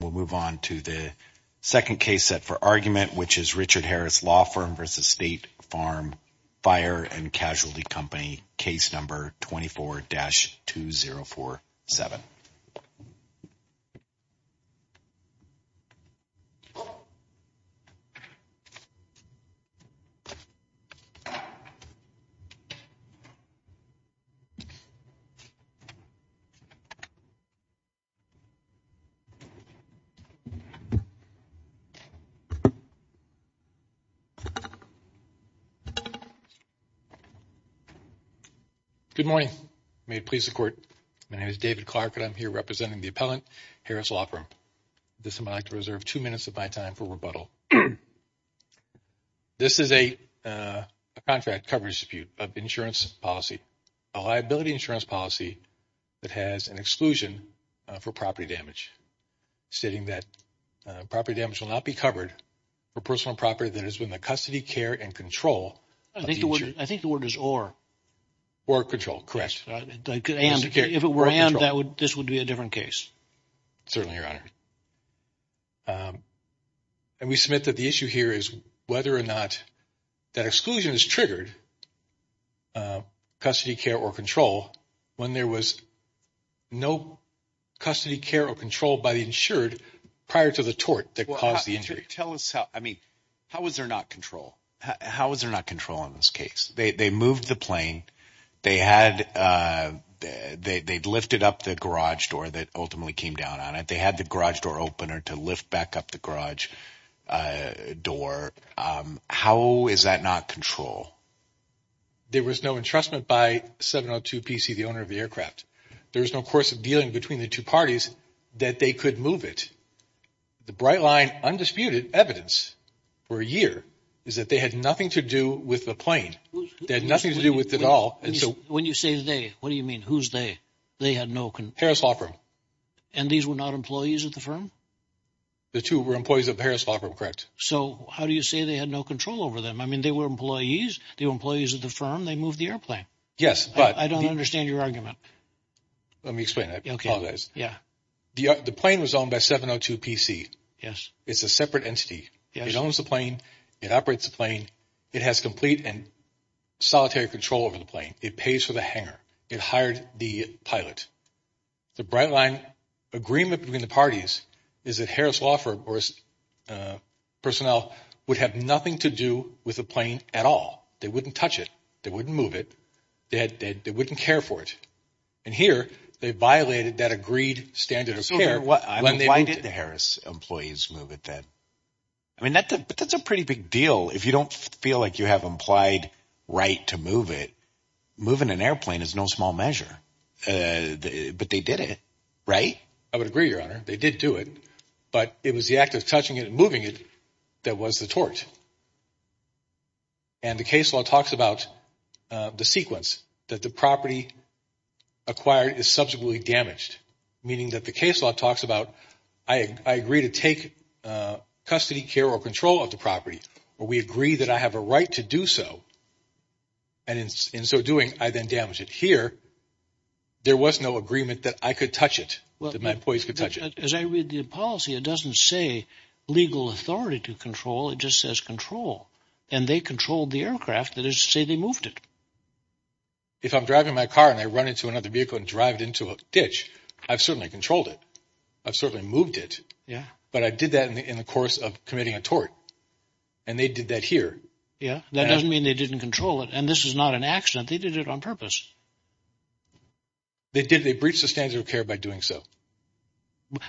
We'll move on to the second case set for argument, which is Richard Harris Law Firm v. State Farm Fire and Casualty Company, case number 24-2047. Good morning. May it please the Court. My name is David Clark, and I'm here representing the appellant, Harris Law Firm. This, I'd like to reserve two minutes of my time for rebuttal. This is a contract coverage dispute of insurance policy, a liability insurance policy that has an exclusion for property damage, stating that property damage will not be covered for personal property that is within the custody, care, and control. I think the word is or. Or control, correct. If it were and, this would be a different case. Certainly, Your Honor. And we submit that the issue here is whether or not that exclusion is triggered, custody, care, or control, when there was no custody, care, or control by the insured prior to the tort that caused the injury. Tell us how, I mean, how was there not control? How was there not control in this case? They moved the plane. They had, they lifted up the garage door that ultimately came down on it. They had the garage door opener to lift back up the garage door. How is that not control? There was no entrustment by 702 PC, the owner of the aircraft. There was no course of dealing between the two parties that they could move it. The bright line, undisputed evidence, for a year, is that they had nothing to do with the plane. They had nothing to do with it at all. When you say they, what do you mean? Who's they? They had no control. Harris Law Firm. And these were not employees of the firm? The two were employees of Harris Law Firm, correct. So, how do you say they had no control over them? I mean, they were employees. They were employees of the firm. They moved the airplane. Yes, but. I don't understand your argument. Let me explain. I apologize. Yeah. The plane was owned by 702 PC. It's a separate entity. Yes. It owns the plane. It operates the plane. It has complete and solitary control over the plane. It pays for the hangar. It hired the pilot. The bright line agreement between the parties is that Harris Law Firm or its personnel would have nothing to do with the plane at all. They wouldn't touch it. They wouldn't move it. They wouldn't care for it. And here, they violated that agreed standard of care when they moved it. Why did the Harris employees move it then? I mean, that's a pretty big deal. If you don't feel like you have implied right to move it, moving an airplane is no small measure. But they did it, right? I would agree, Your Honor. They did do it. But it was the act of touching it and moving it that was the tort. And the case law talks about the sequence, that the property acquired is subjectively damaged, meaning that the case law talks about, I agree to take custody, care, or control of the property, or we agree that I have a right to do so. And in so doing, I then damage it. Here, there was no agreement that I could touch it, that my employees could touch it. As I read the policy, it doesn't say legal authority to control. It just says control. And they controlled the aircraft. That is to say they moved it. If I'm driving my car and I run into another vehicle and drive it into a ditch, I've certainly controlled it. I've certainly moved it. But I did that in the course of committing a tort. And they did that here. Yeah. That doesn't mean they didn't control it. And this is not an accident. They did it on purpose. They did. They breached the standard of care by doing so.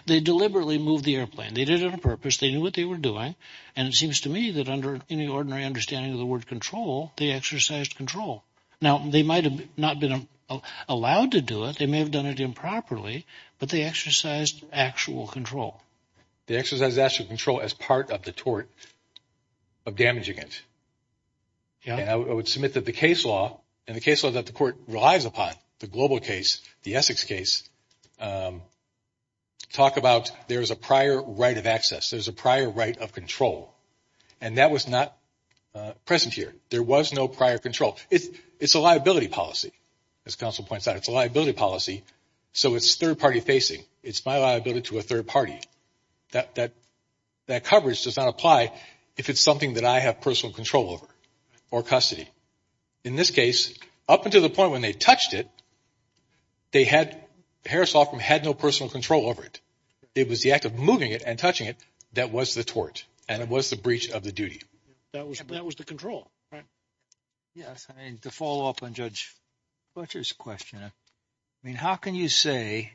They deliberately moved the airplane. They did it on purpose. They knew what they were doing. And it seems to me that under any ordinary understanding of the word control, they exercised control. Now, they might have not been allowed to do it. They may have done it improperly. But they exercised actual control. They exercised actual control as part of the tort of damaging it. Yeah. And I would submit that the case law and the case law that the court relies upon, the Global case, the Essex case, talk about there's a prior right of access. There's a prior right of control. And that was not present here. There was no prior control. It's a liability policy, as counsel points out. It's a liability policy. So it's third-party facing. It's my liability to a third party. That coverage does not apply if it's something that I have personal control over or custody. In this case, up until the point when they touched it, they had no personal control over it. It was the act of moving it and touching it that was the tort and it was the breach of the duty. That was the control, right? Yes. And to follow up on Judge Butcher's question, I mean, how can you say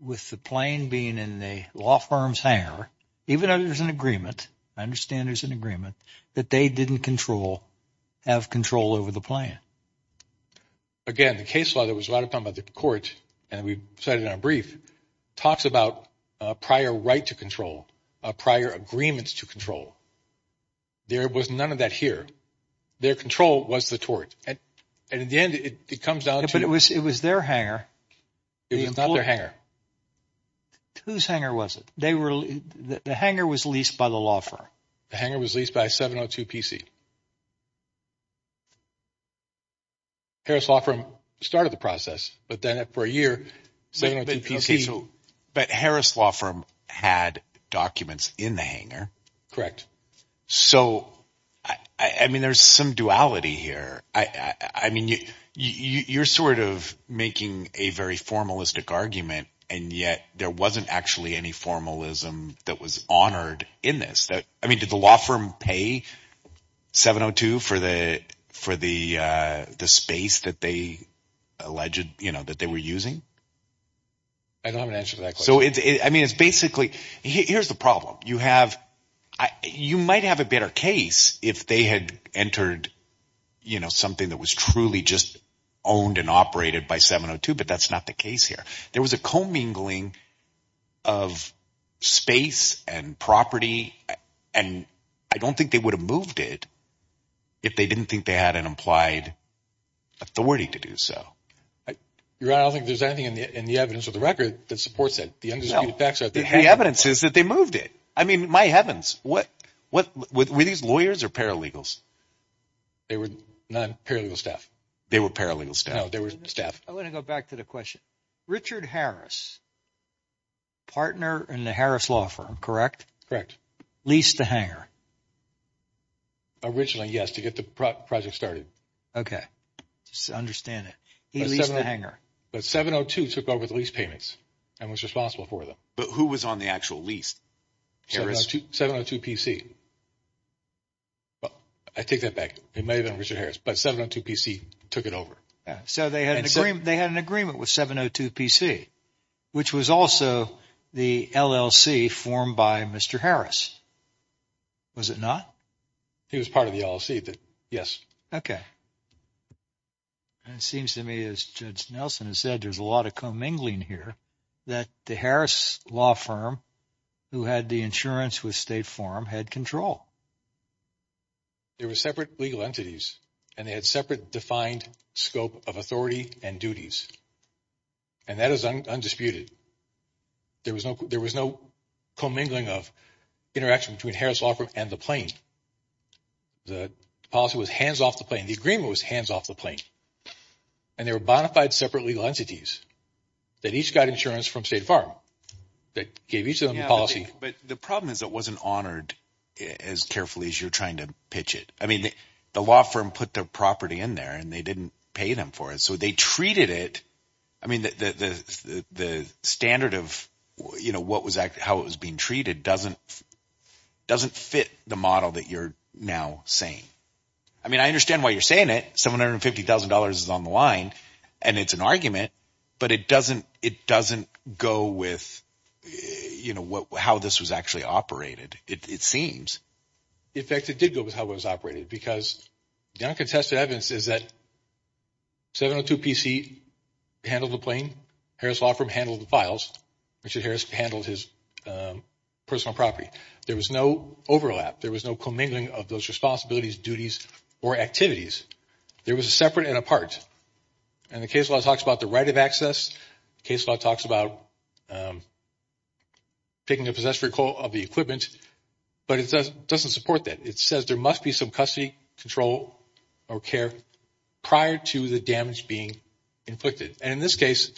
with the plane being in the law firm's hangar, even though there's an agreement, I understand there's an agreement, that they didn't control, have control over the plane? Again, the case law, there was a lot of talk about the court, and we said it in our brief, talks about a prior right to control, a prior agreement to control. There was none of that here. Their control was the tort. And in the end, it comes down to it. But it was their hangar. It was not their hangar. Whose hangar was it? The hangar was leased by the law firm. The hangar was leased by 702 PC. Harris Law Firm started the process, but then for a year, 702 PC – But Harris Law Firm had documents in the hangar. Correct. So I mean there's some duality here. I mean you're sort of making a very formalistic argument, and yet there wasn't actually any formalism that was honored in this. I mean did the law firm pay 702 for the space that they alleged that they were using? I don't have an answer to that question. So I mean it's basically – here's the problem. You have – you might have a better case if they had entered something that was truly just owned and operated by 702, but that's not the case here. There was a commingling of space and property, and I don't think they would have moved it if they didn't think they had an implied authority to do so. You're right. I don't think there's anything in the evidence of the record that supports that. No. The evidence is that they moved it. I mean my heavens. Were these lawyers or paralegals? They were non-paralegal staff. They were paralegal staff. No, they were staff. I want to go back to the question. Richard Harris, partner in the Harris Law Firm, correct? Leased the hangar. Originally, yes, to get the project started. Okay. I understand it. He leased the hangar. But 702 took over the lease payments and was responsible for them. But who was on the actual lease? Harris. 702 PC. I take that back. It may have been Richard Harris, but 702 PC took it over. So they had an agreement with 702 PC, which was also the LLC formed by Mr. Harris. Was it not? He was part of the LLC. It seems to me, as Judge Nelson has said, there's a lot of commingling here that the Harris Law Firm, who had the insurance with State Farm, had control. There were separate legal entities, and they had separate defined scope of authority and duties. And that is undisputed. There was no commingling of interaction between Harris Law Firm and the plane. The policy was hands off the plane. The agreement was hands off the plane. And there were bonafide separate legal entities that each got insurance from State Farm that gave each of them the policy. But the problem is it wasn't honored as carefully as you're trying to pitch it. I mean the law firm put the property in there, and they didn't pay them for it. So they treated it – I mean the standard of how it was being treated doesn't fit the model that you're now saying. I mean I understand why you're saying it. $750,000 is on the line, and it's an argument, but it doesn't go with how this was actually operated, it seems. In fact, it did go with how it was operated because the uncontested evidence is that 702 PC handled the plane. Harris Law Firm handled the files. Richard Harris handled his personal property. There was no overlap. There was no commingling of those responsibilities, duties, or activities. There was a separate and a part. And the case law talks about the right of access. The case law talks about picking a possessory of the equipment. But it doesn't support that. It says there must be some custody control or care prior to the damage being inflicted. And in this case,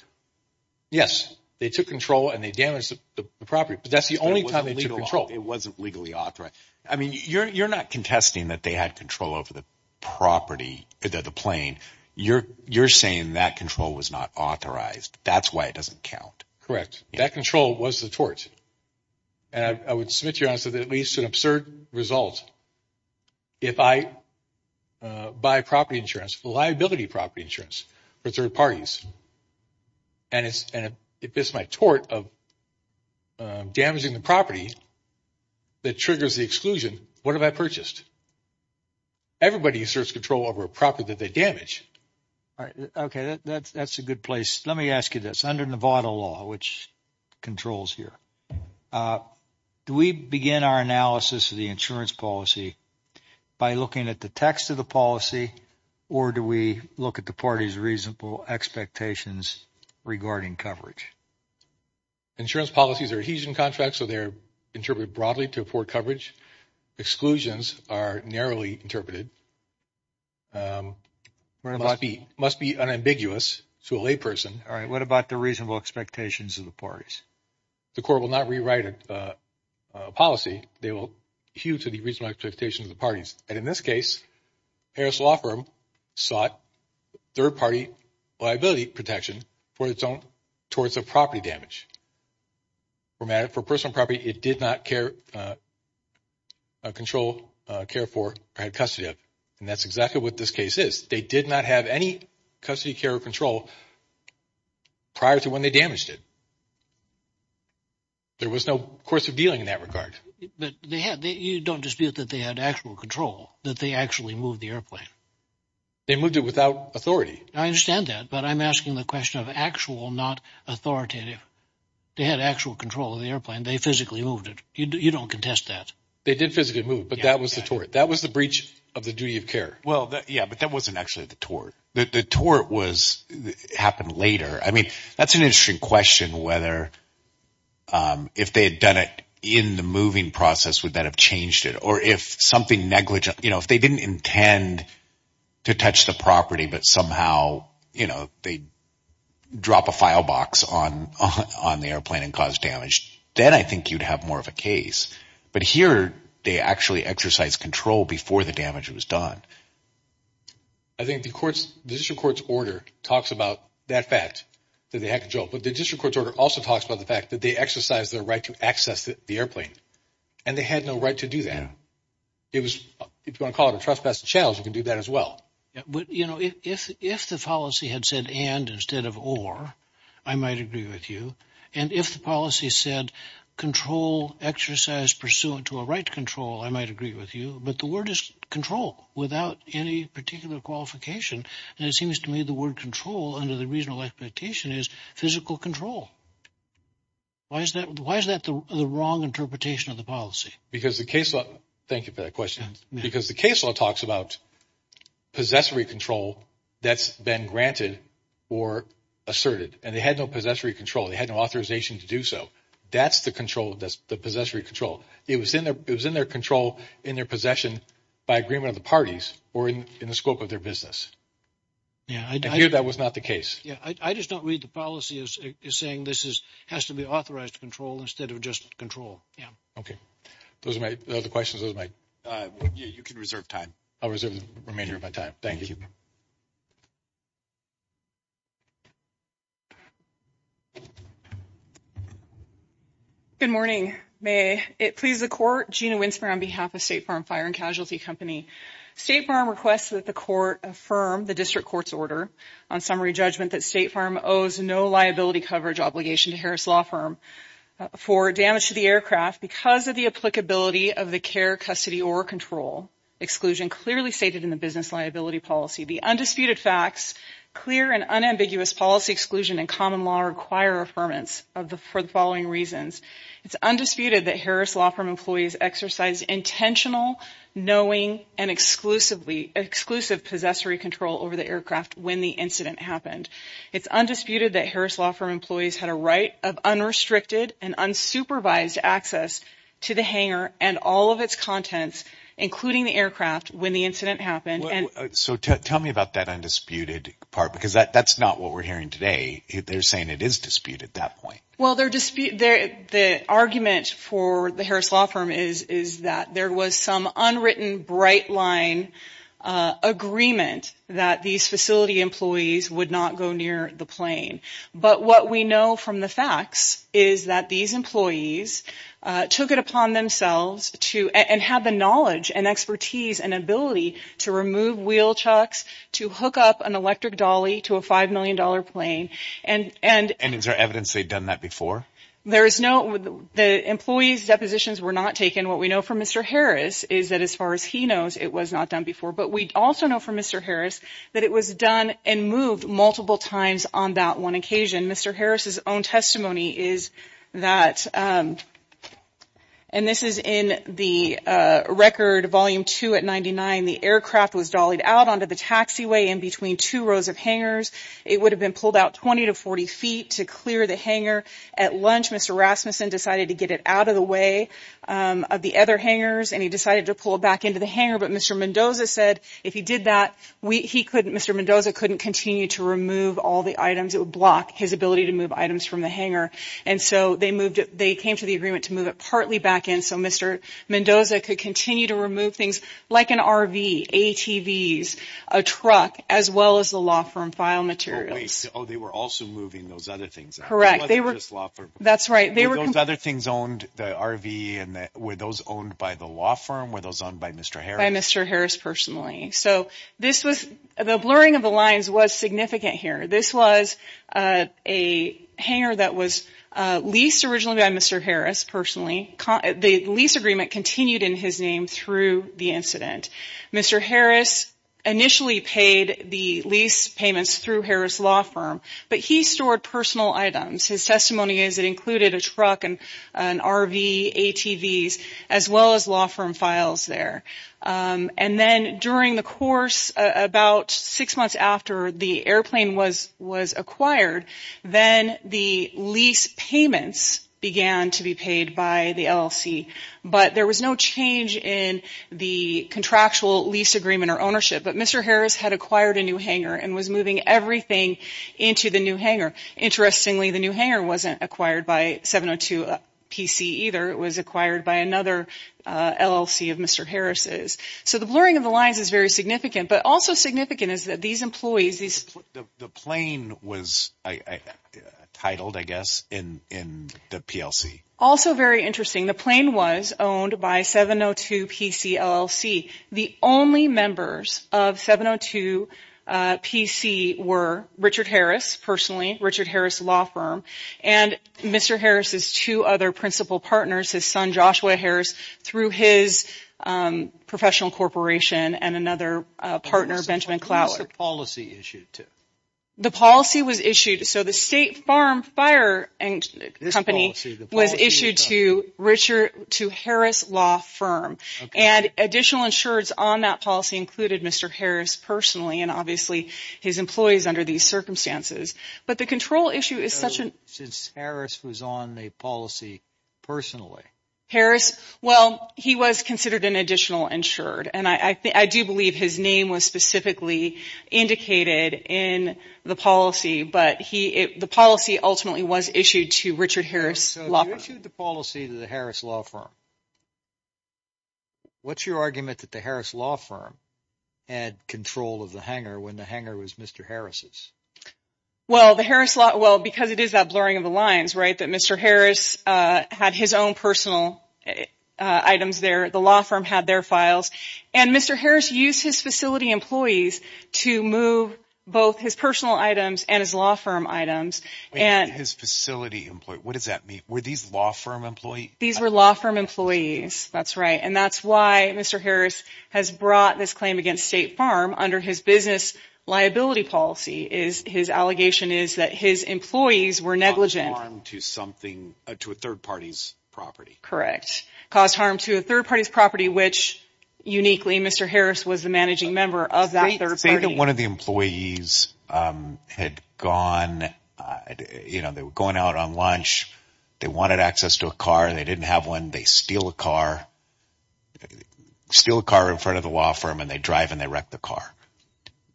yes, they took control and they damaged the property. But that's the only time they took control. It wasn't legally authorized. I mean you're not contesting that they had control over the property, the plane. You're saying that control was not authorized. That's why it doesn't count. Correct. That control was the tort. And I would submit to you honestly that at least an absurd result. If I buy property insurance, liability property insurance for third parties, and if it's my tort of damaging the property that triggers the exclusion, what have I purchased? Everybody asserts control over a property that they damage. All right. Okay. That's a good place. Let me ask you this. Under Nevada law, which controls here, do we begin our analysis of the insurance policy by looking at the text of the policy, or do we look at the party's reasonable expectations regarding coverage? Insurance policies are adhesion contracts, so they're interpreted broadly to afford coverage. Exclusions are narrowly interpreted, must be unambiguous to a layperson. All right. What about the reasonable expectations of the parties? The court will not rewrite a policy. They will hew to the reasonable expectations of the parties. And in this case, Harris Law Firm sought third-party liability protection for its own torts of property damage. For personal property, it did not control, care for, or have custody of. And that's exactly what this case is. They did not have any custody, care, or control prior to when they damaged it. There was no course of dealing in that regard. But you don't dispute that they had actual control, that they actually moved the airplane. They moved it without authority. I understand that, but I'm asking the question of actual, not authoritative. They had actual control of the airplane. They physically moved it. You don't contest that. They did physically move it, but that was the tort. That was the breach of the duty of care. Well, yeah, but that wasn't actually the tort. The tort happened later. I mean, that's an interesting question, whether if they had done it in the moving process, would that have changed it? Or if something negligent, you know, if they didn't intend to touch the property, but somehow, you know, they drop a file box on the airplane and cause damage, then I think you'd have more of a case. But here, they actually exercised control before the damage was done. I think the district court's order talks about that fact, that they had control. But the district court's order also talks about the fact that they exercised their right to access the airplane. And they had no right to do that. If you want to call it a trespassing challenge, you can do that as well. But, you know, if the policy had said and instead of or, I might agree with you. And if the policy said control, exercise pursuant to a right to control, I might agree with you. But the word is control without any particular qualification. And it seems to me the word control under the regional expectation is physical control. Why is that the wrong interpretation of the policy? Because the case law, thank you for that question. Because the case law talks about possessory control that's been granted or asserted. And they had no possessory control. They had no authorization to do so. That's the control, that's the possessory control. It was in their control, in their possession by agreement of the parties or in the scope of their business. And here that was not the case. I just don't read the policy as saying this has to be authorized control instead of just control. Okay. Those are my other questions. You can reserve time. I'll remain here for my time. Thank you. Good morning. May it please the Court. Gina Winsmore on behalf of State Farm Fire and Casualty Company. State Farm requests that the Court affirm the district court's order on summary judgment that State Farm owes no liability coverage obligation to Harris Law Firm for damage to the aircraft because of the applicability of the care, custody, or control exclusion clearly stated in the business liability policy. The undisputed facts, clear and unambiguous policy exclusion and common law require affirmance for the following reasons. It's undisputed that Harris Law Firm employees exercised intentional, knowing, and exclusive possessory control over the aircraft when the incident happened. It's undisputed that Harris Law Firm employees had a right of unrestricted and unsupervised access to the hangar and all of its contents including the aircraft when the incident happened. So tell me about that undisputed part because that's not what we're hearing today. They're saying it is disputed at that point. Well, the argument for the Harris Law Firm is that there was some unwritten bright line agreement that these facility employees would not go near the plane. But what we know from the facts is that these employees took it upon themselves to – and have the knowledge and expertise and ability to remove wheel chucks, to hook up an electric dolly to a $5 million plane. And is there evidence they'd done that before? There is no – the employees' depositions were not taken. What we know from Mr. Harris is that as far as he knows, it was not done before. But we also know from Mr. Harris that it was done and moved multiple times on that one occasion. Mr. Harris' own testimony is that – and this is in the record, Volume 2 at 99. The aircraft was dollied out onto the taxiway in between two rows of hangars. It would have been pulled out 20 to 40 feet to clear the hangar. At lunch, Mr. Rasmussen decided to get it out of the way of the other hangars, and he decided to pull it back into the hangar. But Mr. Mendoza said if he did that, he couldn't – Mr. Mendoza couldn't continue to remove all the items. It would block his ability to move items from the hangar. And so they moved it – they came to the agreement to move it partly back in so Mr. Mendoza could continue to remove things like an RV, ATVs, a truck, as well as the law firm file materials. Oh, they were also moving those other things out. Correct. They weren't just law firms. That's right. Were those other things owned – the RV and – were those owned by the law firm? Were those owned by Mr. Harris? By Mr. Harris personally. So this was – the blurring of the lines was significant here. This was a hangar that was leased originally by Mr. Harris personally. The lease agreement continued in his name through the incident. Mr. Harris initially paid the lease payments through Harris Law Firm, but he stored personal items. His testimony is it included a truck, an RV, ATVs, as well as law firm files there. And then during the course – about six months after the airplane was acquired, then the lease payments began to be paid by the LLC. But there was no change in the contractual lease agreement or ownership. But Mr. Harris had acquired a new hangar and was moving everything into the new hangar. Interestingly, the new hangar wasn't acquired by 702 PC either. It was acquired by another LLC of Mr. Harris'. So the blurring of the lines is very significant. But also significant is that these employees – The plane was titled, I guess, in the PLC. Also very interesting, the plane was owned by 702 PC LLC. The only members of 702 PC were Richard Harris personally, Richard Harris Law Firm, and Mr. Harris' two other principal partners, his son Joshua Harris, through his professional corporation and another partner, Benjamin Cloward. Who was the policy issued to? The policy was issued – so the State Farm Fire Company was issued to Harris Law Firm. And additional insureds on that policy included Mr. Harris personally and obviously his employees under these circumstances. But the control issue is such a – So since Harris was on the policy personally. Harris – well, he was considered an additional insured. And I do believe his name was specifically indicated in the policy. But the policy ultimately was issued to Richard Harris Law Firm. So you issued the policy to the Harris Law Firm. What is your argument that the Harris Law Firm had control of the hangar when the hangar was Mr. Harris'? Well, the Harris – well, because it is that blurring of the lines that Mr. Harris had his own personal items there. The law firm had their files. And Mr. Harris used his facility employees to move both his personal items and his law firm items. His facility – what does that mean? Were these law firm employees? These were law firm employees. That's right. And that's why Mr. Harris has brought this claim against State Farm under his business liability policy. His allegation is that his employees were negligent. Caused harm to something – to a third party's property. Correct. Caused harm to a third party's property, which uniquely Mr. Harris was the managing member of that third party. Say that one of the employees had gone – you know, they were going out on lunch. They wanted access to a car. They didn't have one. They steal a car. Steal a car in front of the law firm and they drive and they wreck the car.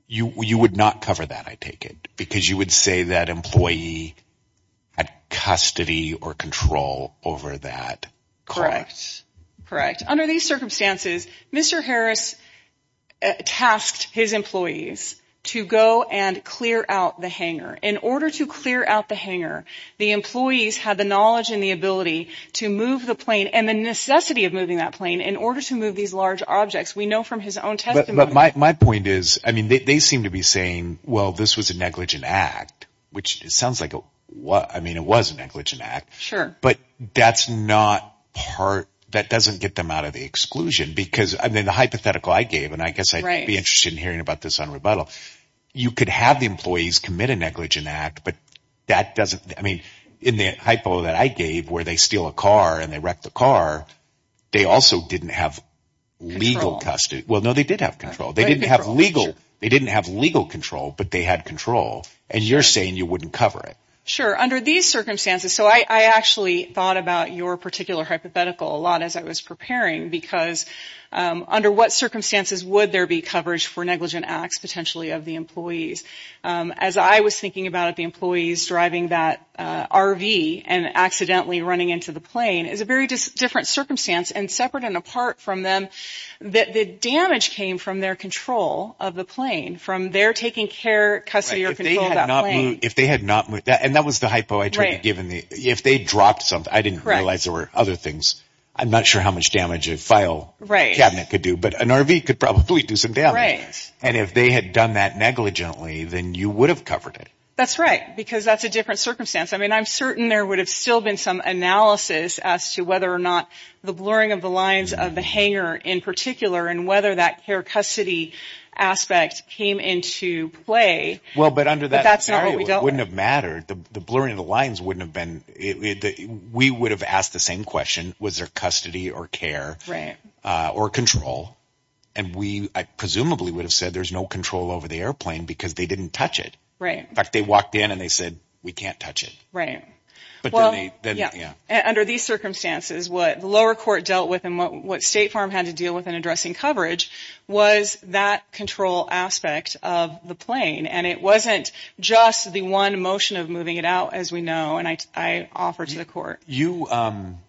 You would not cover that, I take it, because you would say that employee had custody or control over that car. Correct. Correct. Under these circumstances, Mr. Harris tasked his employees to go and clear out the hangar. In order to clear out the hangar, the employees had the knowledge and the ability to move the plane and the necessity of moving that plane in order to move these large objects. We know from his own testimony – But my point is, I mean, they seem to be saying, well, this was a negligent act, which sounds like a – I mean, it was a negligent act. Sure. But that's not part – that doesn't get them out of the exclusion because – I mean, the hypothetical I gave, and I guess I'd be interested in hearing about this on rebuttal. You could have the employees commit a negligent act, but that doesn't – I mean, in the hypo that I gave where they steal a car and they wreck the car, they also didn't have legal custody. Well, no, they did have control. They didn't have legal control, but they had control, and you're saying you wouldn't cover it. Sure. Under these circumstances – so I actually thought about your particular hypothetical a lot as I was preparing because under what circumstances would there be coverage for negligent acts potentially of the employees? As I was thinking about it, the employees driving that RV and accidentally running into the plane is a very different circumstance, and separate and apart from them that the damage came from their control of the plane, from their taking care, custody, or control of that plane. And that was the hypo I tried to give. If they dropped something – I didn't realize there were other things. I'm not sure how much damage a file cabinet could do, but an RV could probably do some damage. And if they had done that negligently, then you would have covered it. That's right, because that's a different circumstance. I mean, I'm certain there would have still been some analysis as to whether or not the blurring of the lines of the hangar in particular and whether that care-custody aspect came into play, but that's not what we dealt with. Well, but under that scenario, it wouldn't have mattered. The blurring of the lines wouldn't have been – we would have asked the same question. Was there custody or care or control? And we presumably would have said there's no control over the airplane because they didn't touch it. In fact, they walked in and they said, we can't touch it. Right. Well, yeah, under these circumstances, what the lower court dealt with and what State Farm had to deal with in addressing coverage was that control aspect of the plane, and it wasn't just the one motion of moving it out, as we know, and I offer to the court. You –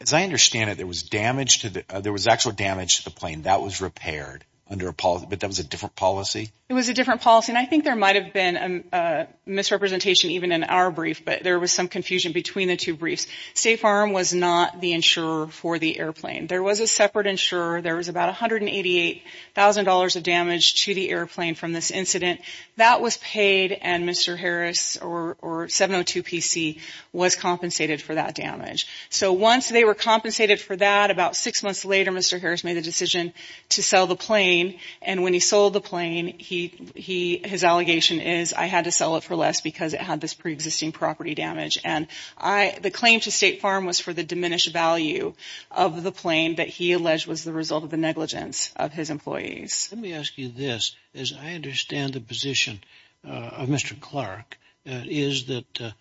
as I understand it, there was damage to the – there was actual damage to the plane. That was repaired under a – but that was a different policy? It was a different policy, and I think there might have been a misrepresentation even in our brief, but there was some confusion between the two briefs. State Farm was not the insurer for the airplane. There was a separate insurer. There was about $188,000 of damage to the airplane from this incident. That was paid, and Mr. Harris or 702 PC was compensated for that damage. So once they were compensated for that, about six months later, Mr. Harris made the decision to sell the plane, and when he sold the plane, he – his allegation is I had to sell it for less because it had this preexisting property damage, and I – the claim to State Farm was for the diminished value of the plane that he alleged was the result of the negligence of his employees. Let me ask you this. As I understand the position of Mr. Clark, is that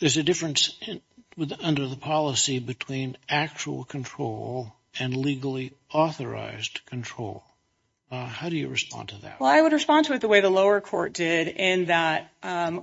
there's a difference under the policy between actual control and legally authorized control. How do you respond to that? Well, I would respond to it the way the lower court did, in that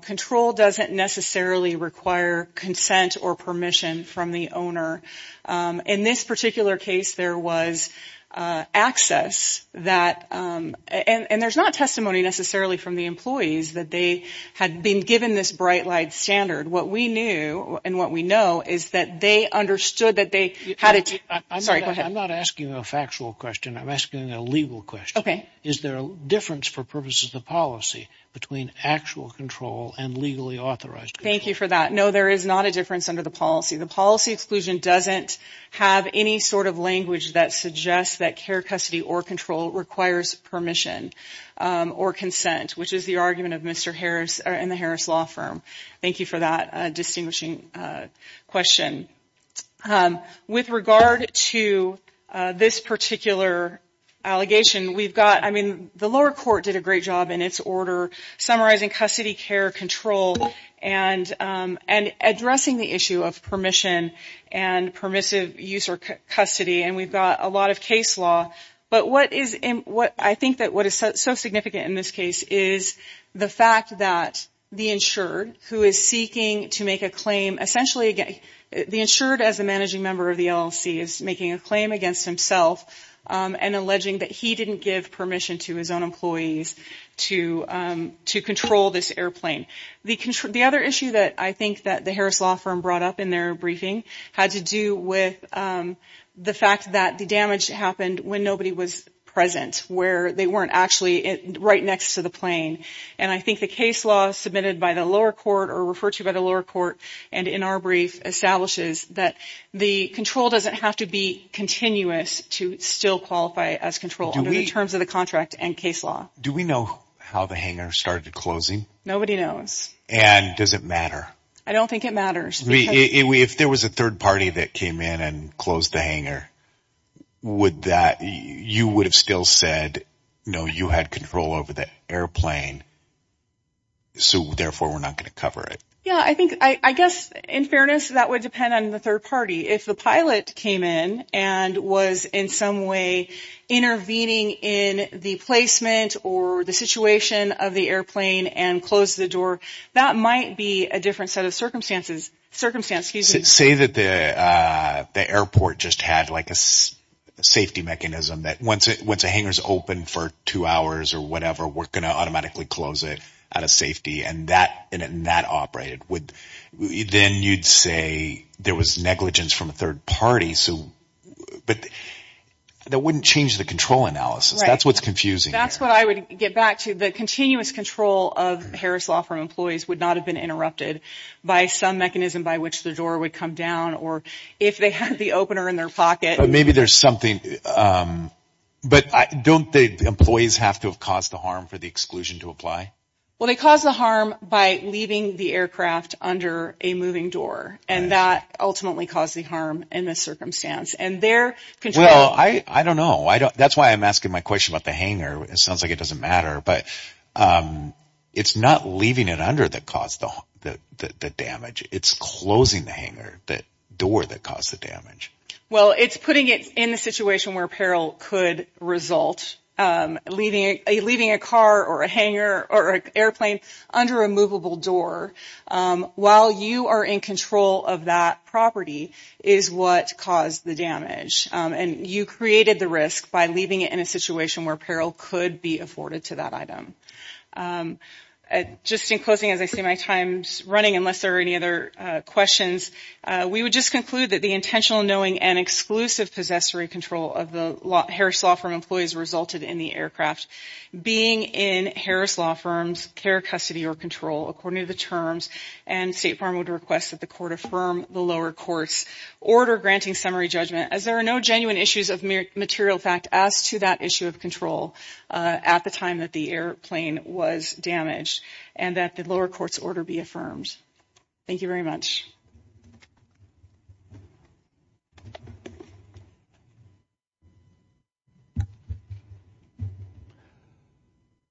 control doesn't necessarily require consent or permission from the owner. In this particular case, there was access that – and there's not testimony necessarily from the employees that they had been given this bright light standard. What we knew and what we know is that they understood that they had a – Sorry, go ahead. I'm not asking a factual question. I'm asking a legal question. Okay. Is there a difference for purposes of policy between actual control and legally authorized control? Thank you for that. No, there is not a difference under the policy. The policy exclusion doesn't have any sort of language that suggests that care, custody, or control requires permission or consent, which is the argument of Mr. Harris and the Harris Law Firm. Thank you for that distinguishing question. With regard to this particular allegation, we've got – I mean, the lower court did a great job in its order summarizing custody, care, control, and addressing the issue of permission and permissive use or custody, and we've got a lot of case law. But what is – I think that what is so significant in this case is the fact that the insured, who is seeking to make a claim – essentially, the insured as a managing member of the LLC is making a claim against himself and alleging that he didn't give permission to his own employees to control this airplane. The other issue that I think that the Harris Law Firm brought up in their briefing had to do with the fact that the damage happened when nobody was present, where they weren't actually right next to the plane. And I think the case law submitted by the lower court or referred to by the lower court and in our brief establishes that the control doesn't have to be continuous to still qualify as control under the terms of the contract and case law. Do we know how the hangar started closing? Nobody knows. And does it matter? I don't think it matters. If there was a third party that came in and closed the hangar, would that – you would have still said, no, you had control over the airplane, so therefore, we're not going to cover it. Yeah, I think – I guess in fairness, that would depend on the third party. If the pilot came in and was in some way intervening in the placement or the situation of the airplane and closed the door, that might be a different set of circumstances – circumstances. Say that the airport just had like a safety mechanism that once a hangar is open for two hours or whatever, we're going to automatically close it out of safety and that operated. Then you'd say there was negligence from a third party. But that wouldn't change the control analysis. That's what's confusing. That's what I would get back to. The continuous control of Harris Law Firm employees would not have been interrupted by some mechanism by which the door would come down or if they had the opener in their pocket. But maybe there's something – but don't the employees have to have caused the harm for the exclusion to apply? Well, they caused the harm by leaving the aircraft under a moving door. And that ultimately caused the harm in this circumstance. And their control – Well, I don't know. That's why I'm asking my question about the hangar. It sounds like it doesn't matter. But it's not leaving it under that caused the damage. It's closing the hangar, the door that caused the damage. Well, it's putting it in a situation where peril could result, leaving a car or a hangar or an airplane under a movable door. While you are in control of that property is what caused the damage. And you created the risk by leaving it in a situation where peril could be afforded to that item. Just in closing, as I see my time running, unless there are any other questions, we would just conclude that the intentional, knowing, and exclusive possessory control of the Harris Law Firm employees resulted in the aircraft being in Harris Law Firm's care, custody, or control according to the terms. And State Farm would request that the court affirm the lower court's order granting summary judgment. As there are no genuine issues of material fact as to that issue of control at the time that the airplane was damaged, and that the lower court's order be affirmed. Thank you very much.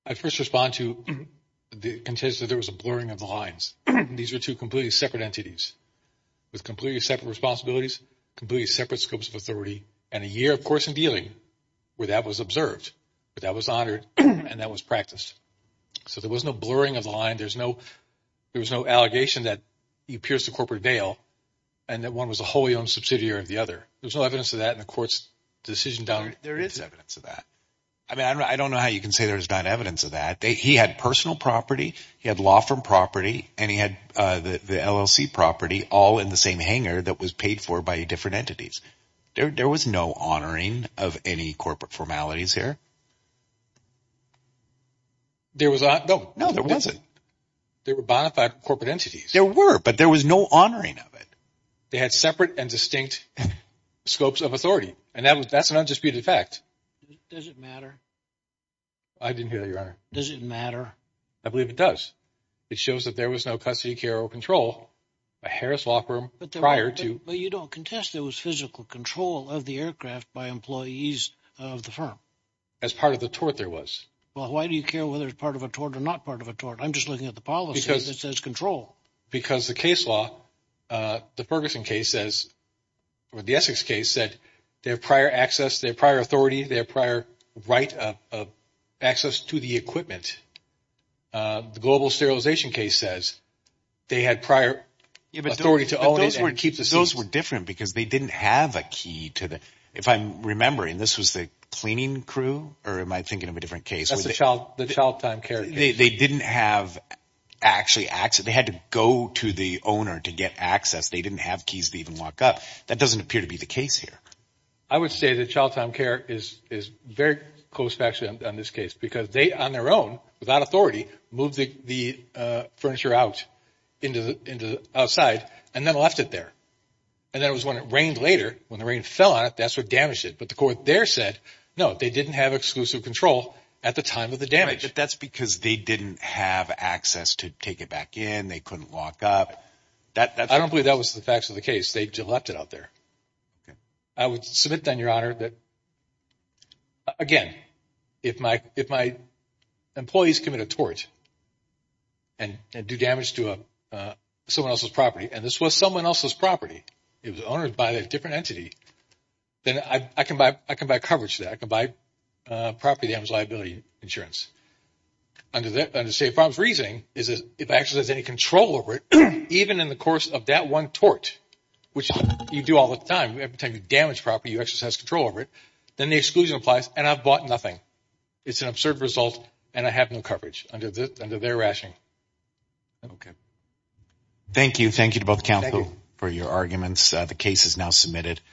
I first respond to the contention that there was a blurring of the lines. These were two completely separate entities with completely separate responsibilities, completely separate scopes of authority, and a year, of course, in dealing where that was observed. But that was honored and that was practiced. So there was no blurring of the line. There was no allegation that he appears to corporate bail and that one was a wholly owned subsidiary of the other. There's no evidence of that in the court's decision. There is evidence of that. I mean, I don't know how you can say there's not evidence of that. He had personal property. He had law firm property. And he had the LLC property all in the same hangar that was paid for by different entities. There was no honoring of any corporate formalities here. No, there wasn't. There were bona fide corporate entities. There were, but there was no honoring of it. They had separate and distinct scopes of authority. And that's an undisputed fact. Does it matter? I didn't hear you, Your Honor. Does it matter? I believe it does. It shows that there was no custody, care or control by Harris Law Firm prior to. But you don't contest there was physical control of the aircraft by employees of the firm. As part of the tort there was. Well, why do you care whether it's part of a tort or not part of a tort? I'm just looking at the policy that says control. Because the case law, the Ferguson case says or the Essex case said they have prior access, they have prior authority, they have prior right of access to the equipment. The global sterilization case says they had prior authority to own it. Those were different because they didn't have a key to the – if I'm remembering, this was the cleaning crew or am I thinking of a different case? That's the child time care. They didn't have actually access. They had to go to the owner to get access. They didn't have keys to even lock up. That doesn't appear to be the case here. I would say that child time care is very close actually on this case because they on their own without authority moved the furniture out outside and then left it there. And that was when it rained later. When the rain fell on it, that's what damaged it. But the court there said, no, they didn't have exclusive control at the time of the damage. But that's because they didn't have access to take it back in. They couldn't lock up. I don't believe that was the facts of the case. They just left it out there. I would submit then, Your Honor, that, again, if my employees commit a tort and do damage to someone else's property, and this was someone else's property, it was owned by a different entity, then I can buy coverage for that. I can buy property damage liability insurance. Under State Farm's reasoning, if I exercise any control over it, even in the course of that one tort, which you do all the time, every time you damage property, you exercise control over it, then the exclusion applies and I've bought nothing. It's an absurd result and I have no coverage under their rationing. Thank you. Thank you to both counsel for your arguments. The case is now submitted.